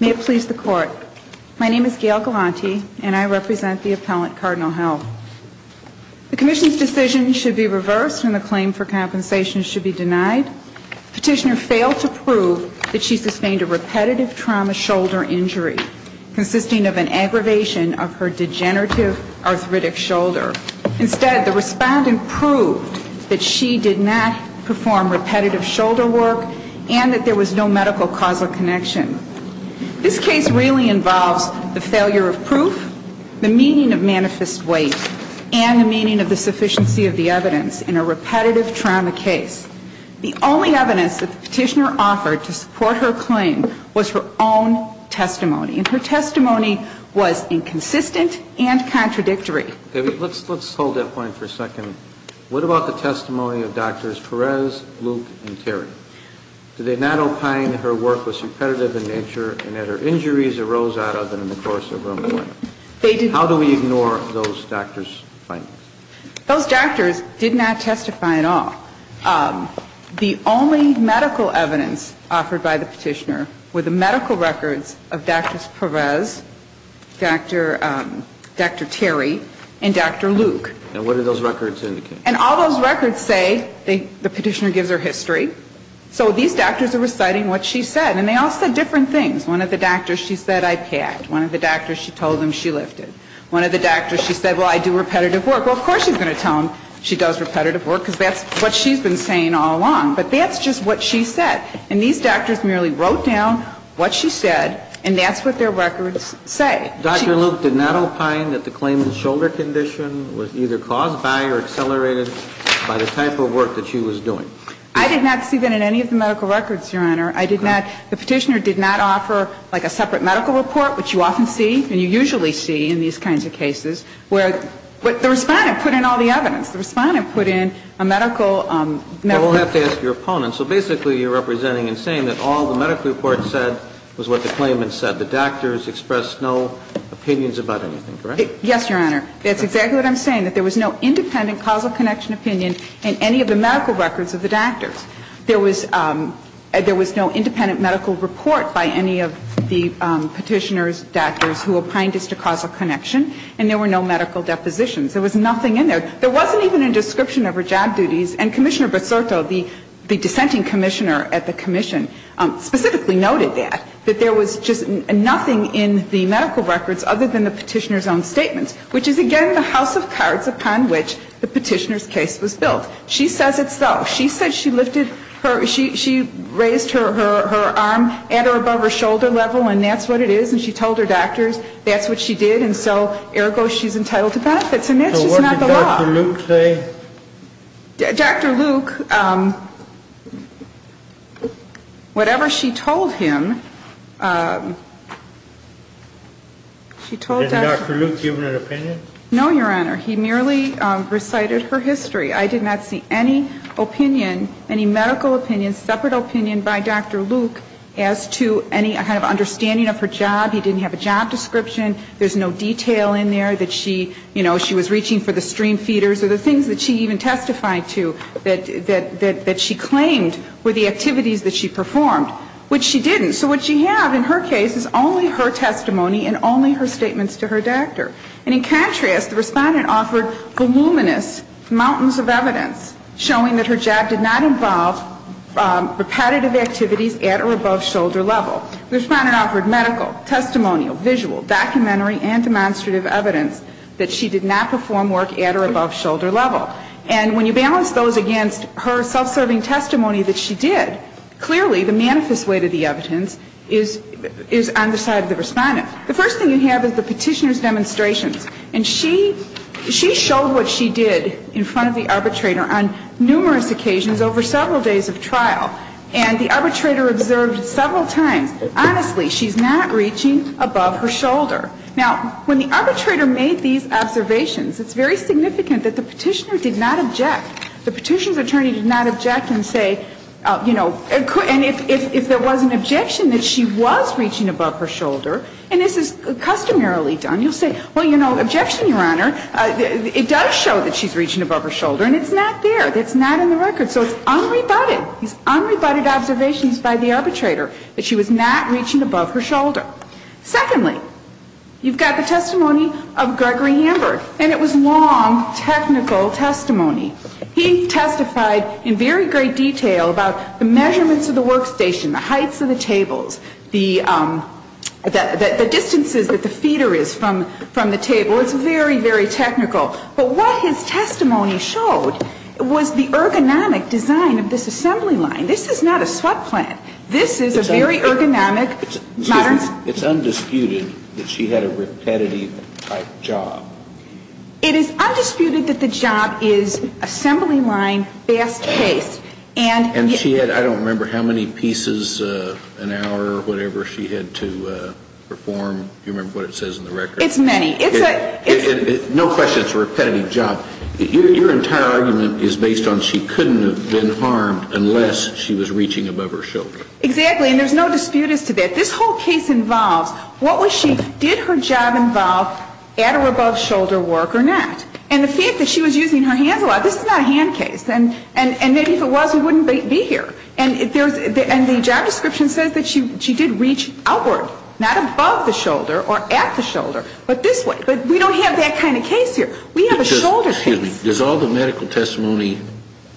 May it please the court, my name is Gail Galante and I represent the Appellant Cardinal Health. The commission's decision should be reversed and the claim for compensation should be denied. Petitioner failed to prove that she sustained a repetitive trauma shoulder injury, consisting of an aggravation of her degenerative arthritic shoulder. Instead, the respondent proved that she did not perform repetitive shoulder work and that there was no medical causal connection. This case really involves the failure of proof, the meaning of manifest word, and the lack of evidence to support the claim. The only evidence that the petitioner offered to support her claim was her own testimony, and her testimony was inconsistent and contradictory. Kennedy, let's hold that point for a second. What about the testimony of Drs. Perez, Luke, and Terry? Did they not opine that her work was repetitive in nature and that her injuries arose out of it in the course of her employment? How do we ignore those doctors' findings? Those doctors did not testify at all. The only medical evidence offered by the petitioner were the medical records of Drs. Perez, Dr. Terry, and Dr. Luke. And what do those records indicate? And all those records say the petitioner gives her history. So these doctors are reciting what she said, and they all said different things. One of the doctors, she said, I packed. One of the doctors, she told them she lifted. One of the doctors, she said, well, I do repetitive work. Well, of course she's going to tell them she does repetitive work, because that's what she's been saying all along. But that's just what she said. And these doctors merely wrote down what she said, and that's what their records say. Dr. Luke did not opine that the claimant's shoulder condition was either caused by or accelerated by the type of work that she was doing? I did not see that in any of the medical records, Your Honor. I did not. The petitioner did not offer, like, a separate medical report, which you often see and you usually see in these kinds of cases, where the Respondent put in all the evidence. The Respondent put in a medical record. Well, we'll have to ask your opponent. So basically you're representing and saying that all the medical reports said was what the claimant said. The doctors expressed no opinions about anything, correct? Yes, Your Honor. That's exactly what I'm saying, that there was no independent causal connection opinion in any of the medical records of the doctors. There was no independent medical report by any of the petitioner's doctors who opined as to causal connection, and there were no medical depositions. There was nothing in there. There wasn't even a description of her job duties, and Commissioner Basurto, the dissenting commissioner at the commission, specifically noted that, that there was just nothing in the medical records other than the petitioner's own statements, which is, again, the house of cards upon which the petitioner's case was built. She says it's so. She said she raised her arm at or above her shoulder level, and that's what it is. And she told her doctors that's what she did. And so, ergo, she's entitled to benefits. And that's just not the law. So what did Dr. Luke say? Dr. Luke, whatever she told him, she told Dr. Did Dr. Luke give an opinion? No, Your Honor. He merely recited her history. I did not see any opinion, any medical opinion, separate opinion by Dr. Luke as to any kind of understanding of her job. He didn't have a job description. There's no detail in there that she, you know, she was reaching for the stream feeders or the things that she even testified to that she claimed were the activities that she performed, which she didn't. So what she had in her case is only her testimony and only her statements to her doctor. And in contrast, the Respondent offered voluminous mountains of evidence showing that her job did not involve repetitive activities at or above shoulder level. The Respondent offered medical, testimonial, visual, documentary, and demonstrative evidence that she did not perform work at or above shoulder level. And when you balance those against her self-serving testimony that she did, clearly the manifest way to the evidence is on the side of the Respondent. The first thing you have is the Petitioner's demonstrations. And she showed what she did in front of the arbitrator on numerous occasions over several days of trial. And the arbitrator observed several times, honestly, she's not reaching above her shoulder. Now, when the arbitrator made these observations, it's very significant that the Petitioner did not object. The Petitioner's attorney did not object and say, you know, and if there was an objection that she was reaching above her shoulder, and this is customarily done, you'll say, well, you know, objection, Your Honor. It does show that she's reaching above her shoulder. And it's not there. It's not in the record. So it's unrebutted. These unrebutted observations by the arbitrator that she was not reaching above her shoulder. Secondly, you've got the testimony of Gregory Hamburg. And it was long, technical testimony. He testified in very great detail about the measurements of the workstation, the heights of the tables, the distances that the feeder is from the table. It's very, very technical. But what his testimony showed was the ergonomic design of this assembly line. This is not a sweat plant. This is a very ergonomic, modern. It's undisputed that she had a repetitive type job. It is undisputed that the job is assembly line, fast paced. And she had, I don't remember how many pieces an hour or whatever she had to perform. Do you remember what it says in the record? It's many. No question, it's a repetitive job. Your entire argument is based on she couldn't have been harmed unless she was reaching above her shoulder. Exactly. And there's no dispute as to that. This whole case involves what was she, did her job involve at or above shoulder work or not? And the fact that she was using her hands a lot, this is not a hand case. And maybe if it was, we wouldn't be here. And the job description says that she did reach outward, not above the shoulder or at the shoulder, but this way. But we don't have that kind of case here. We have a shoulder case. Excuse me. Does all the medical testimony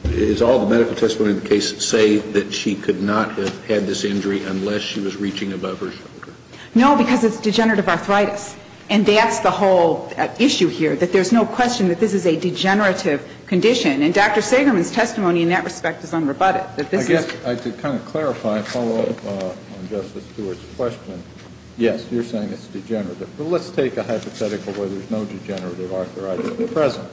in the case say that she could not have had this injury unless she was reaching above her shoulder? No, because it's degenerative arthritis. And that's the whole issue here, that there's no question that this is a degenerative condition. And Dr. Sagerman's testimony in that respect is unrebutted. I guess, to kind of clarify and follow up on Justice Stewart's question, yes, you're saying it's degenerative. But let's take a hypothetical where there's no degenerative arthritis present.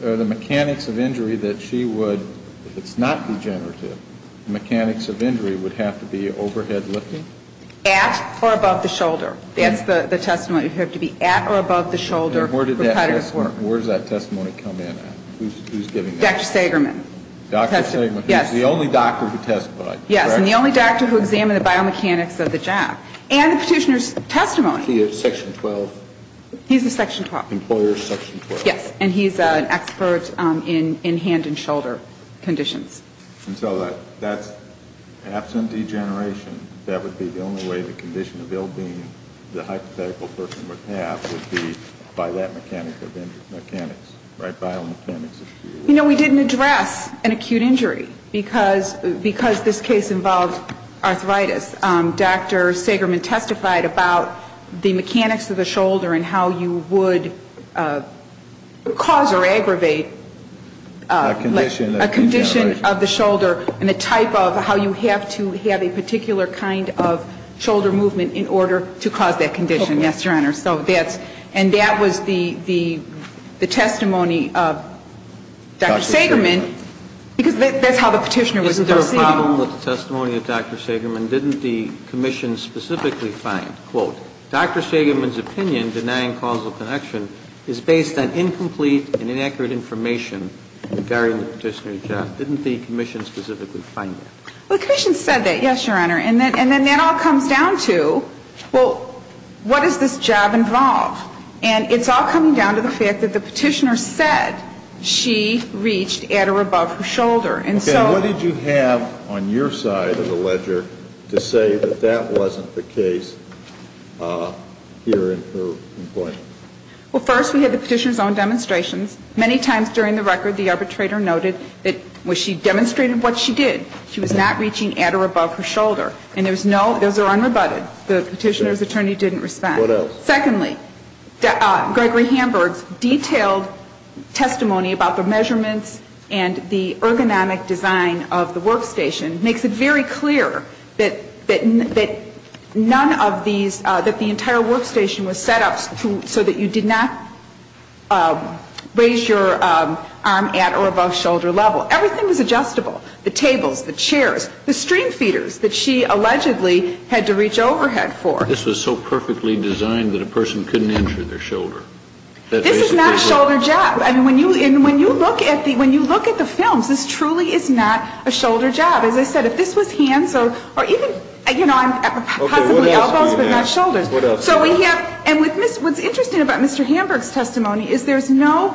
The mechanics of injury that she would, if it's not degenerative, the mechanics of injury would have to be overhead lifting? At or above the shoulder. That's the testimony. It would have to be at or above the shoulder repetitive work. Where does that testimony come in at? Who's giving that? Dr. Sagerman. Dr. Sagerman. Yes. The only doctor who testified. Yes. And the only doctor who examined the biomechanics of the job. And the petitioner's testimony. He is Section 12. He's a Section 12. Employer's Section 12. Yes. And he's an expert in hand and shoulder conditions. And so that's, absent degeneration, that would be the only way the condition of ill-being the hypothetical person would have, that would be by that mechanic of injury. Mechanics, right? Biomechanics of injury. You know, we didn't address an acute injury because this case involved arthritis. Dr. Sagerman testified about the mechanics of the shoulder and how you would cause or aggravate a condition of the shoulder and the type of how you have to have a particular kind of shoulder movement in order to cause that condition. Yes, Your Honor. And that was the testimony of Dr. Sagerman. Dr. Sagerman. Because that's how the petitioner was proceeding. Is there a problem with the testimony of Dr. Sagerman? Didn't the commission specifically find, quote, Dr. Sagerman's opinion denying causal connection is based on incomplete and inaccurate information regarding the petitioner's job. Didn't the commission specifically find that? Well, the commission said that, yes, Your Honor. And then that all comes down to, well, what does this job involve? And it's all coming down to the fact that the petitioner said she reached at or above her shoulder. Okay. What did you have on your side of the ledger to say that that wasn't the case here in her complaint? Well, first, we had the petitioner's own demonstrations. Many times during the record, the arbitrator noted that she demonstrated what she did. She was not reaching at or above her shoulder. And those are unrebutted. The petitioner's attorney didn't respond. What else? Secondly, Gregory Hamburg's detailed testimony about the measurements and the ergonomic design of the workstation makes it very clear that none of these, that the entire workstation was set up so that you did not raise your arm at or above shoulder level. Everything was adjustable. The tables, the chairs, the stream feeders that she allegedly had to reach overhead for. This was so perfectly designed that a person couldn't enter their shoulder. This is not shoulder jab. I mean, when you look at the films, this truly is not a shoulder jab. As I said, if this was hands or even, you know, possibly elbows but not shoulders. Okay. What else do you have? And what's interesting about Mr. Hamburg's testimony is there's no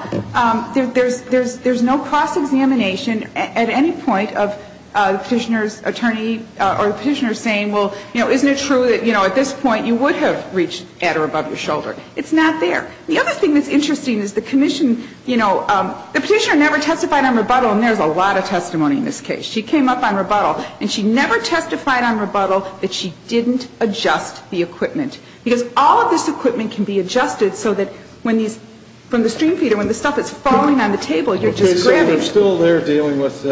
cross-examination at any point of the petitioner's attorney or the petitioner saying, well, you know, isn't it true that, you know, at this point you would have reached at or above your shoulder? It's not there. The other thing that's interesting is the commission, you know, the petitioner never testified on rebuttal, and there's a lot of testimony in this case. She came up on rebuttal, and she never testified on rebuttal that she didn't adjust the equipment. Because all of this equipment can be adjusted so that when these, from the stream feeder, when the stuff is falling on the table, you're just grabbing it. I'm still there dealing with,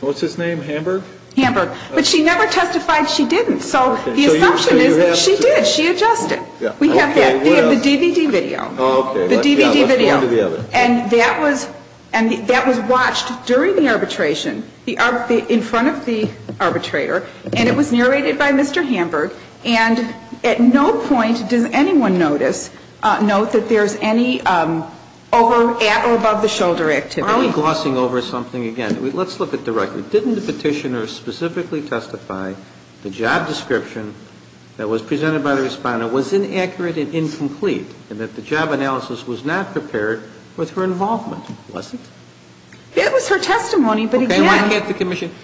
what's his name, Hamburg? Hamburg. But she never testified she didn't. So the assumption is that she did. She adjusted. We have that. The DVD video. Oh, okay. The DVD video. Let's go on to the other. And that was watched during the arbitration, in front of the arbitrator. And it was narrated by Mr. Hamburg. And at no point does anyone notice, note that there's any over, at or above the shoulder activity. Are we glossing over something again? Let's look at the record. Didn't the petitioner specifically testify the job description that was presented by the Responder was inaccurate and incomplete, and that the job analysis was not prepared with her involvement? Was it? It was her testimony, but again. Okay. Why can't the Commission,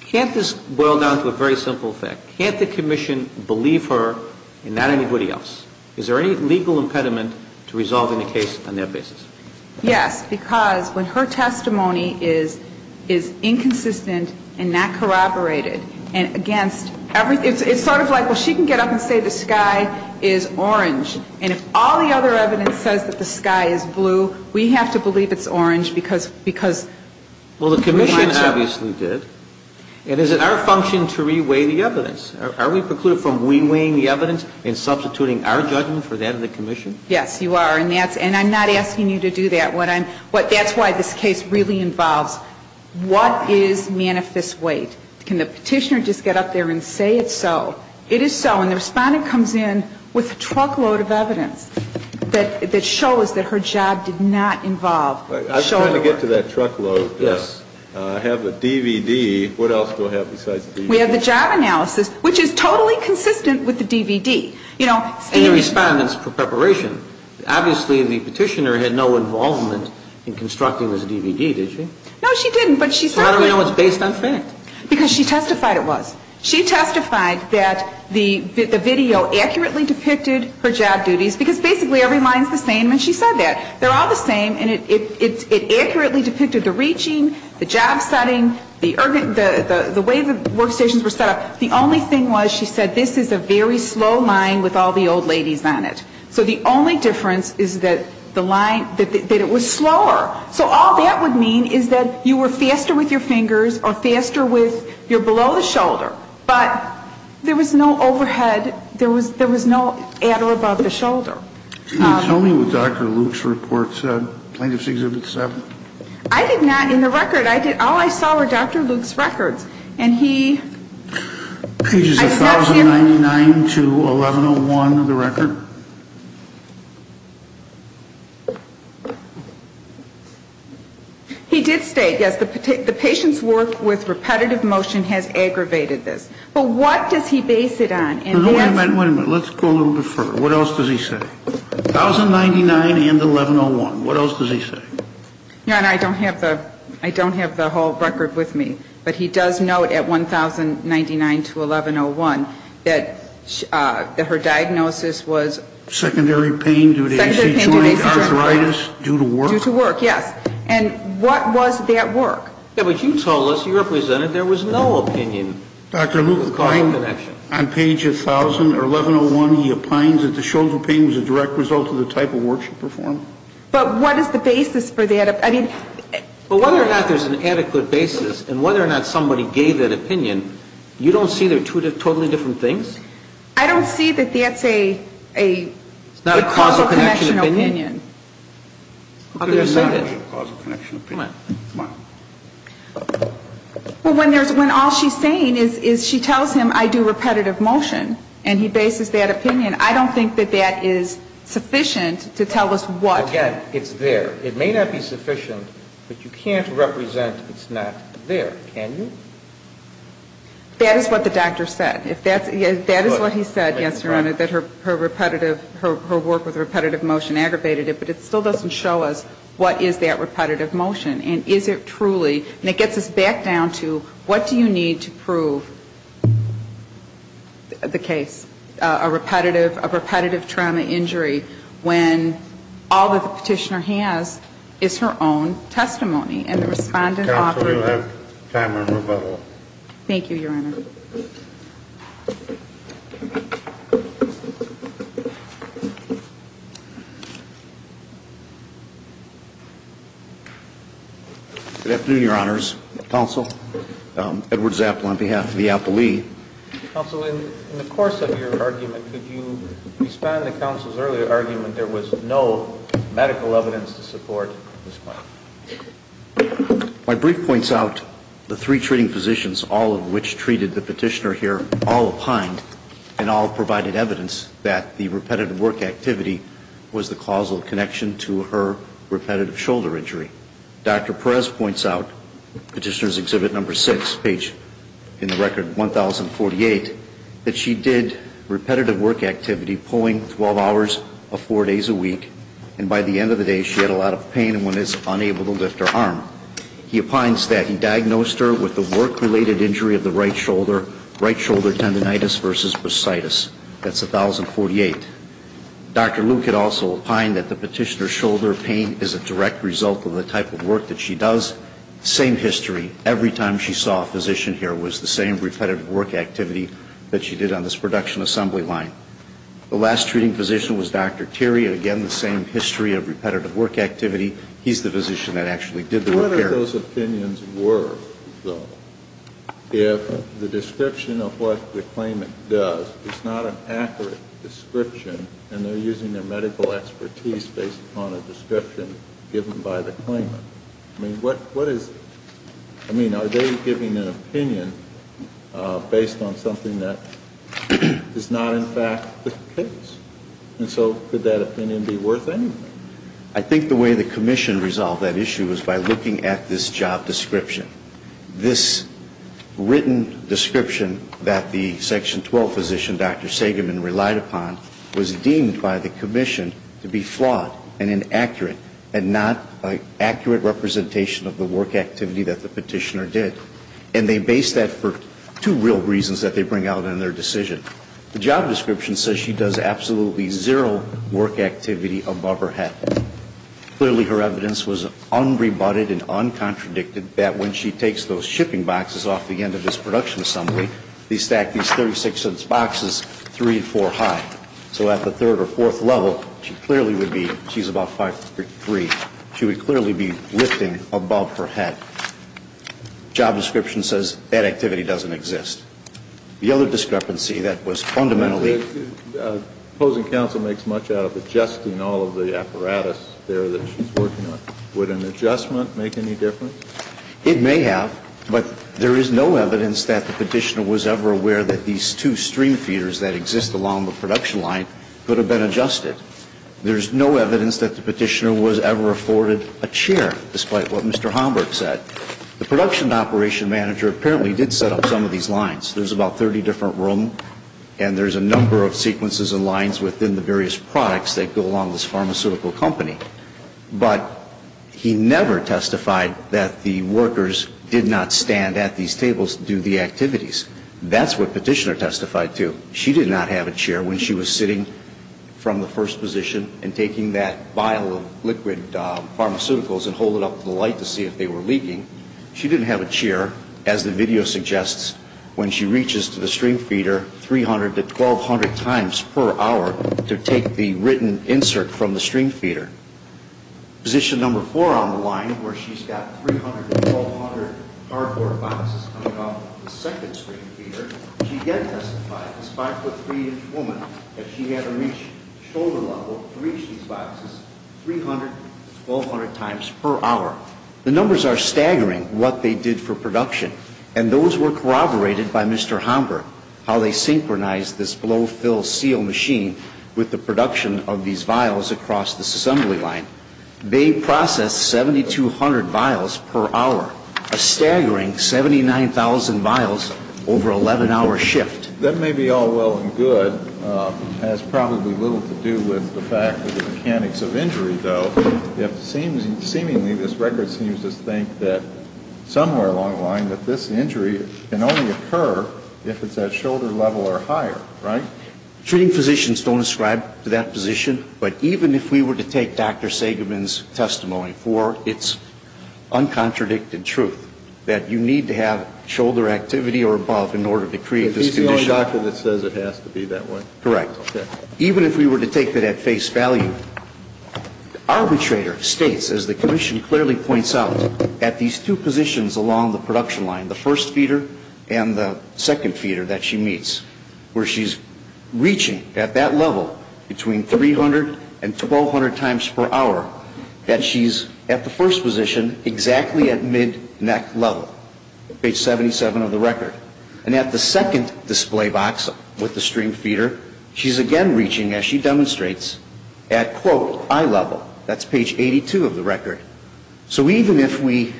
can't this boil down to a very simple fact? Can't the Commission believe her and not anybody else? Is there any legal impediment to resolving the case on their basis? Yes. Because when her testimony is inconsistent and not corroborated and against, it's sort of like, well, she can get up and say the sky is orange. And if all the other evidence says that the sky is blue, we have to believe it's orange because, because. Well, the Commission obviously did. And is it our function to re-weigh the evidence? Are we precluded from re-weighing the evidence and substituting our judgment for that of the Commission? Yes, you are. And that's, and I'm not asking you to do that. What I'm, that's why this case really involves what is manifest weight? Can the petitioner just get up there and say it's so? It is so. And the respondent comes in with a truckload of evidence that shows that her job did not involve shoulder work. I was trying to get to that truckload. Yes. I have a DVD. What else do I have besides the DVD? We have the job analysis, which is totally consistent with the DVD. You know, Steve. And the respondent's preparation. Obviously, the petitioner had no involvement in constructing this DVD, did she? No, she didn't. So how do we know it's based on fact? Because she testified it was. She testified that the video accurately depicted her job duties, because basically every line is the same when she said that. They're all the same, and it accurately depicted the reaching, the job setting, the way the workstations were set up. The only thing was she said this is a very slow line with all the old ladies on it. So the only difference is that the line, that it was slower. So all that would mean is that you were faster with your fingers or faster with you're below the shoulder. But there was no overhead. There was no at or above the shoulder. Can you tell me what Dr. Luke's report said, Plaintiff's Exhibit 7? I did not in the record. All I saw were Dr. Luke's records. He did state, yes, the patient's work with repetitive motion has aggravated this. But what does he base it on? Wait a minute, wait a minute. Let's go a little bit further. What else does he say? 1099 and 1101. What else does he say? Your Honor, I don't have the whole record with me. But he does note at 1099 to 1101 that her diagnosis was? Secondary pain due to AC joint arthritis due to work. Due to work, yes. And what was that work? Yeah, but you told us, you represented there was no opinion. Dr. Luke on page 1101 he opines that the shoulder pain was a direct result of the type of work she performed. But what is the basis for that? But whether or not there's an adequate basis and whether or not somebody gave that opinion, you don't see they're two totally different things? I don't see that that's a causal connection opinion. It's not a causal connection opinion. Who could have said that? It's not a causal connection opinion. Come on. Come on. Well, when all she's saying is she tells him I do repetitive motion and he bases that opinion, I don't think that that is sufficient to tell us what. Again, it's there. It may not be sufficient, but you can't represent it's not there, can you? That is what the doctor said. That is what he said, yes, Your Honor, that her repetitive, her work with repetitive motion aggravated it. But it still doesn't show us what is that repetitive motion. And is it truly, and it gets us back down to what do you need to prove the case? I think a reasonable possibility is that it's a repetitive, a repetitive trauma injury when all that the Petitioner has is her own testimony. And the Respondent ought to. Counsel, we'll have time for rebuttal. Thank you, Your Honor. Good afternoon, Your Honors. Counsel, Edward Zappel on behalf of the Appellee. Counsel, in the course of your argument, could you expand the Counsel's earlier argument there was no medical evidence to support this claim? My brief points out the three treating physicians, all of which treated the Petitioner here, all opined and all provided evidence that the repetitive work activity was the causal connection to her repetitive shoulder injury. Dr. Perez points out, Petitioner's Exhibit No. 6, page, in the Record 1048, that she did repetitive work activity pulling 12 hours of four days a week. And by the end of the day, she had a lot of pain and was unable to lift her arm. He opines that he diagnosed her with the work-related injury of the right shoulder, right shoulder tendinitis versus bursitis. That's 1048. Dr. Luke had also opined that the Petitioner's shoulder pain is a direct result of the type of work that she does. Same history. Every time she saw a physician here, it was the same repetitive work activity that she did on this Production Assembly line. The last treating physician was Dr. Terry. Again, the same history of repetitive work activity. He's the physician that actually did the repair. What are those opinions worth, though, if the description of what the claimant does is not an accurate description and they're using their medical expertise based upon a description given by the claimant? I mean, what is it? I mean, are they giving an opinion based on something that is not, in fact, the case? And so could that opinion be worth anything? I think the way the Commission resolved that issue was by looking at this job description. This written description that the Section 12 physician, Dr. Segerman, relied upon was deemed by the Commission to be flawed and inaccurate and not an accurate representation of the work activity that the Petitioner did. And they based that for two real reasons that they bring out in their decision. The job description says she does absolutely zero work activity above her head. Clearly, her evidence was unrebutted and uncontradicted that when she takes those shipping boxes off the end of this Production Assembly, they stack these 36-inch boxes three and four high. So at the third or fourth level, she clearly would be, she's about 5'3", she would clearly be lifting above her head. Job description says that activity doesn't exist. The other discrepancy that was fundamentally... Opposing counsel makes much out of adjusting all of the apparatus there that she's working on. Would an adjustment make any difference? It may have. But there is no evidence that the Petitioner was ever aware that these two stream feeders that exist along the production line could have been adjusted. There's no evidence that the Petitioner was ever afforded a chair, despite what Mr. Homburg said. The production operation manager apparently did set up some of these lines. There's about 30 different rooms, and there's a number of sequences and lines within the various products that go along this pharmaceutical company. But he never testified that the workers did not stand at these tables to do the activities. That's what Petitioner testified to. She did not have a chair when she was sitting from the first position and taking that vial of liquid pharmaceuticals and hold it up to the light to see if they were leaking. She didn't have a chair, as the video suggests, when she reaches to the stream feeder 300 to 1,200 times per hour to take the written insert from the stream feeder. Position number four on the line, where she's got 300 to 1,200 cardboard boxes coming off the second stream feeder, she did testify, this 5-foot-3-inch woman, that she had to reach shoulder level to reach these boxes 300 to 1,200 times per hour. The numbers are staggering, what they did for production. And those were corroborated by Mr. Homburg, how they synchronized this blow-fill-seal machine with the production of these vials across this assembly line. They processed 7,200 vials per hour, a staggering 79,000 vials over an 11-hour shift. That may be all well and good. It has probably little to do with the fact of the mechanics of injury, though. Seemingly, this record seems to think that somewhere along the line, that this injury can only occur if it's at shoulder level or higher, right? Treating physicians don't ascribe to that position. But even if we were to take Dr. Sagerman's testimony for its uncontradicted truth, that you need to have shoulder activity or above in order to create this condition. But he's the only doctor that says it has to be that way. Correct. Even if we were to take it at face value, the arbitrator states, as the commission clearly points out, that these two positions along the production line, the first feeder and the second feeder that she meets, where she's reaching at that level between 300 and 1,200 times per hour, that she's at the first position exactly at mid-neck level, page 77 of the record. And at the second display box with the stream feeder, she's again reaching, as she demonstrates, at, quote, eye level. That's page 82 of the record. So even if we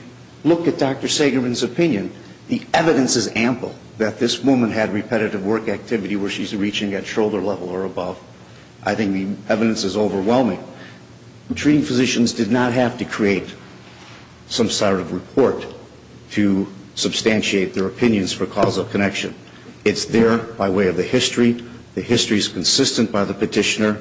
look at Dr. Sagerman's opinion, the evidence is ample that this woman had repetitive work activity where she's reaching at shoulder level or above. I think the evidence is overwhelming. Treating physicians did not have to create some sort of report to substantiate their opinions for causal connection. It's there by way of the history. The history is consistent by the petitioner.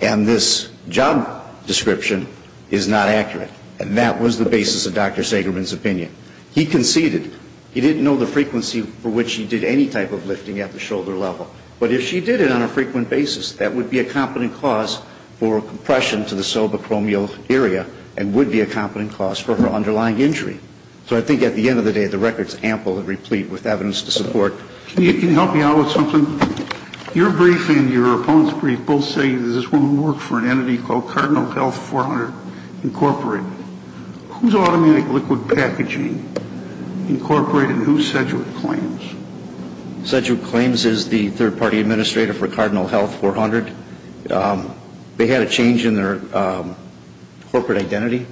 And this job description is not accurate. And that was the basis of Dr. Sagerman's opinion. He conceded. He didn't know the frequency for which she did any type of lifting at the shoulder level. But if she did it on a frequent basis, that would be a competent cause for compression to the subacromial area and would be a competent cause for her underlying injury. So I think at the end of the day, the record's ample and replete with evidence to support. Can you help me out with something? Your brief and your opponent's brief both say that this woman worked for an entity called Cardinal Health 400 Incorporated. Who's Automatic Liquid Packaging Incorporated and who's Sedgwick Claims? Sedgwick Claims is the third-party administrator for Cardinal Health 400. They had a change in their corporate identity.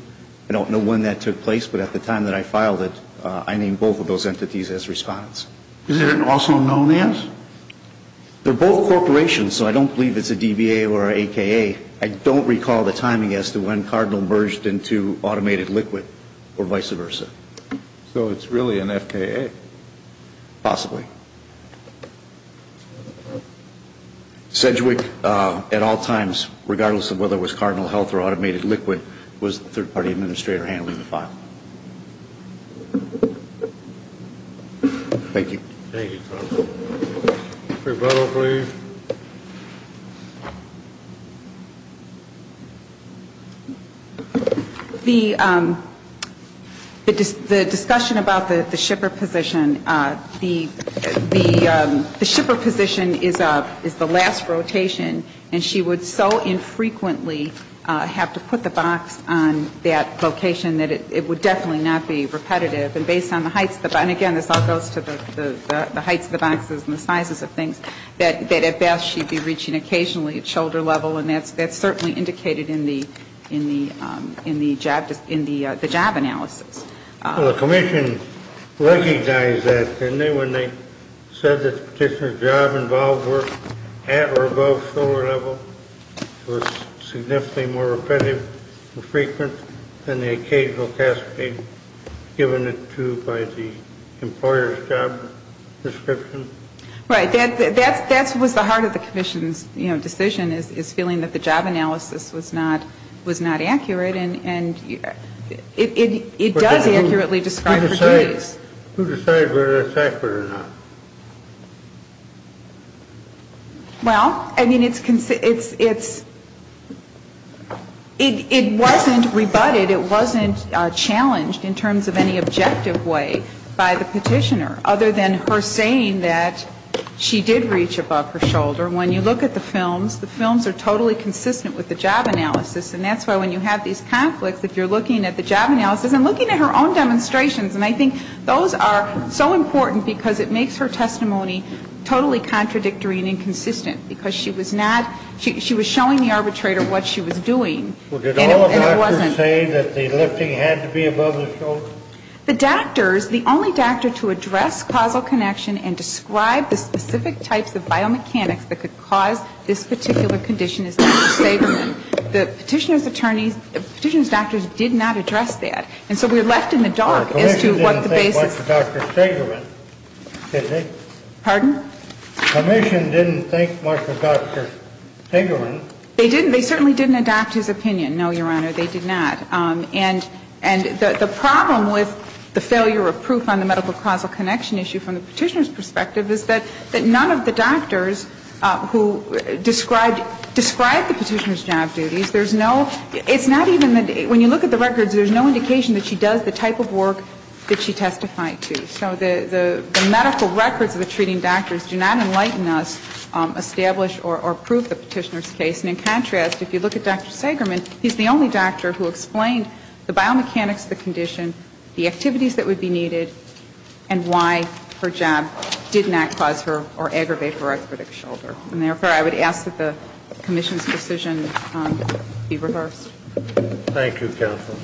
I don't know when that took place, but at the time that I filed it, I named both of those entities as respondents. Is there an also known as? They're both corporations, so I don't believe it's a DBA or an AKA. I don't recall the timing as to when Cardinal merged into Automated Liquid or vice versa. So it's really an FKA. Possibly. Sedgwick, at all times, regardless of whether it was Cardinal Health or Automated Liquid, was the third-party administrator handling the file. Thank you. Thank you, Tom. Rebuttal, please. The discussion about the shipper position, the shipper position is the last rotation, and she would so infrequently have to put the box on that location that it would definitely not be repetitive. And based on the heights of the box, and, again, this all goes to the heights of the boxes and the sizes of things, that at best she'd be reaching occasionally at shoulder level, and that's certainly indicated in the job analysis. Well, the commission recognized that, didn't they, when they said that the particular job involved work at or above shoulder level, it was significantly more repetitive and frequent than the occasional task being given it to by the employer's job description? Right. That was the heart of the commission's, you know, decision, is feeling that the job analysis was not accurate, and it does accurately describe her duties. Who decided whether that's accurate or not? Well, I mean, it's concerned ‑‑ it wasn't rebutted, it wasn't challenged in terms of any objective way by the petitioner, other than her saying that she did reach above her shoulder. When you look at the films, the films are totally consistent with the job analysis, and that's why when you have these conflicts, if you're looking at the job analysis and looking at her own demonstrations, and I think those are so important because it makes her testimony totally contradictory and inconsistent, because she was not ‑‑ she was showing the arbitrator what she was doing, and it wasn't. But the doctor, the only doctor to address causal connection and describe the specific types of biomechanics that could cause this particular condition is Dr. Sagerman. The petitioner's attorneys, the petitioner's doctors did not address that. And so we're left in the dark as to what the basis ‑‑ Pardon? The commission didn't think much of Dr. Sagerman. They didn't. They certainly didn't adapt his opinion. No, Your Honor, they did not. And the problem with the failure of proof on the medical causal connection issue from the petitioner's perspective is that none of the doctors who described the petitioner's job duties, there's no ‑‑ it's not even ‑‑ when you look at the records, there's no indication that she does the type of work that she testified to. So the medical records of the treating doctors do not enlighten us, establish or prove the petitioner's case. And in contrast, if you look at Dr. Sagerman, he's the only doctor who explained the biomechanics of the condition, the activities that would be needed, and why her job did not cause her or aggravate her expedition. And therefore, I would ask that the commission's decision be reversed. Thank you, counsel.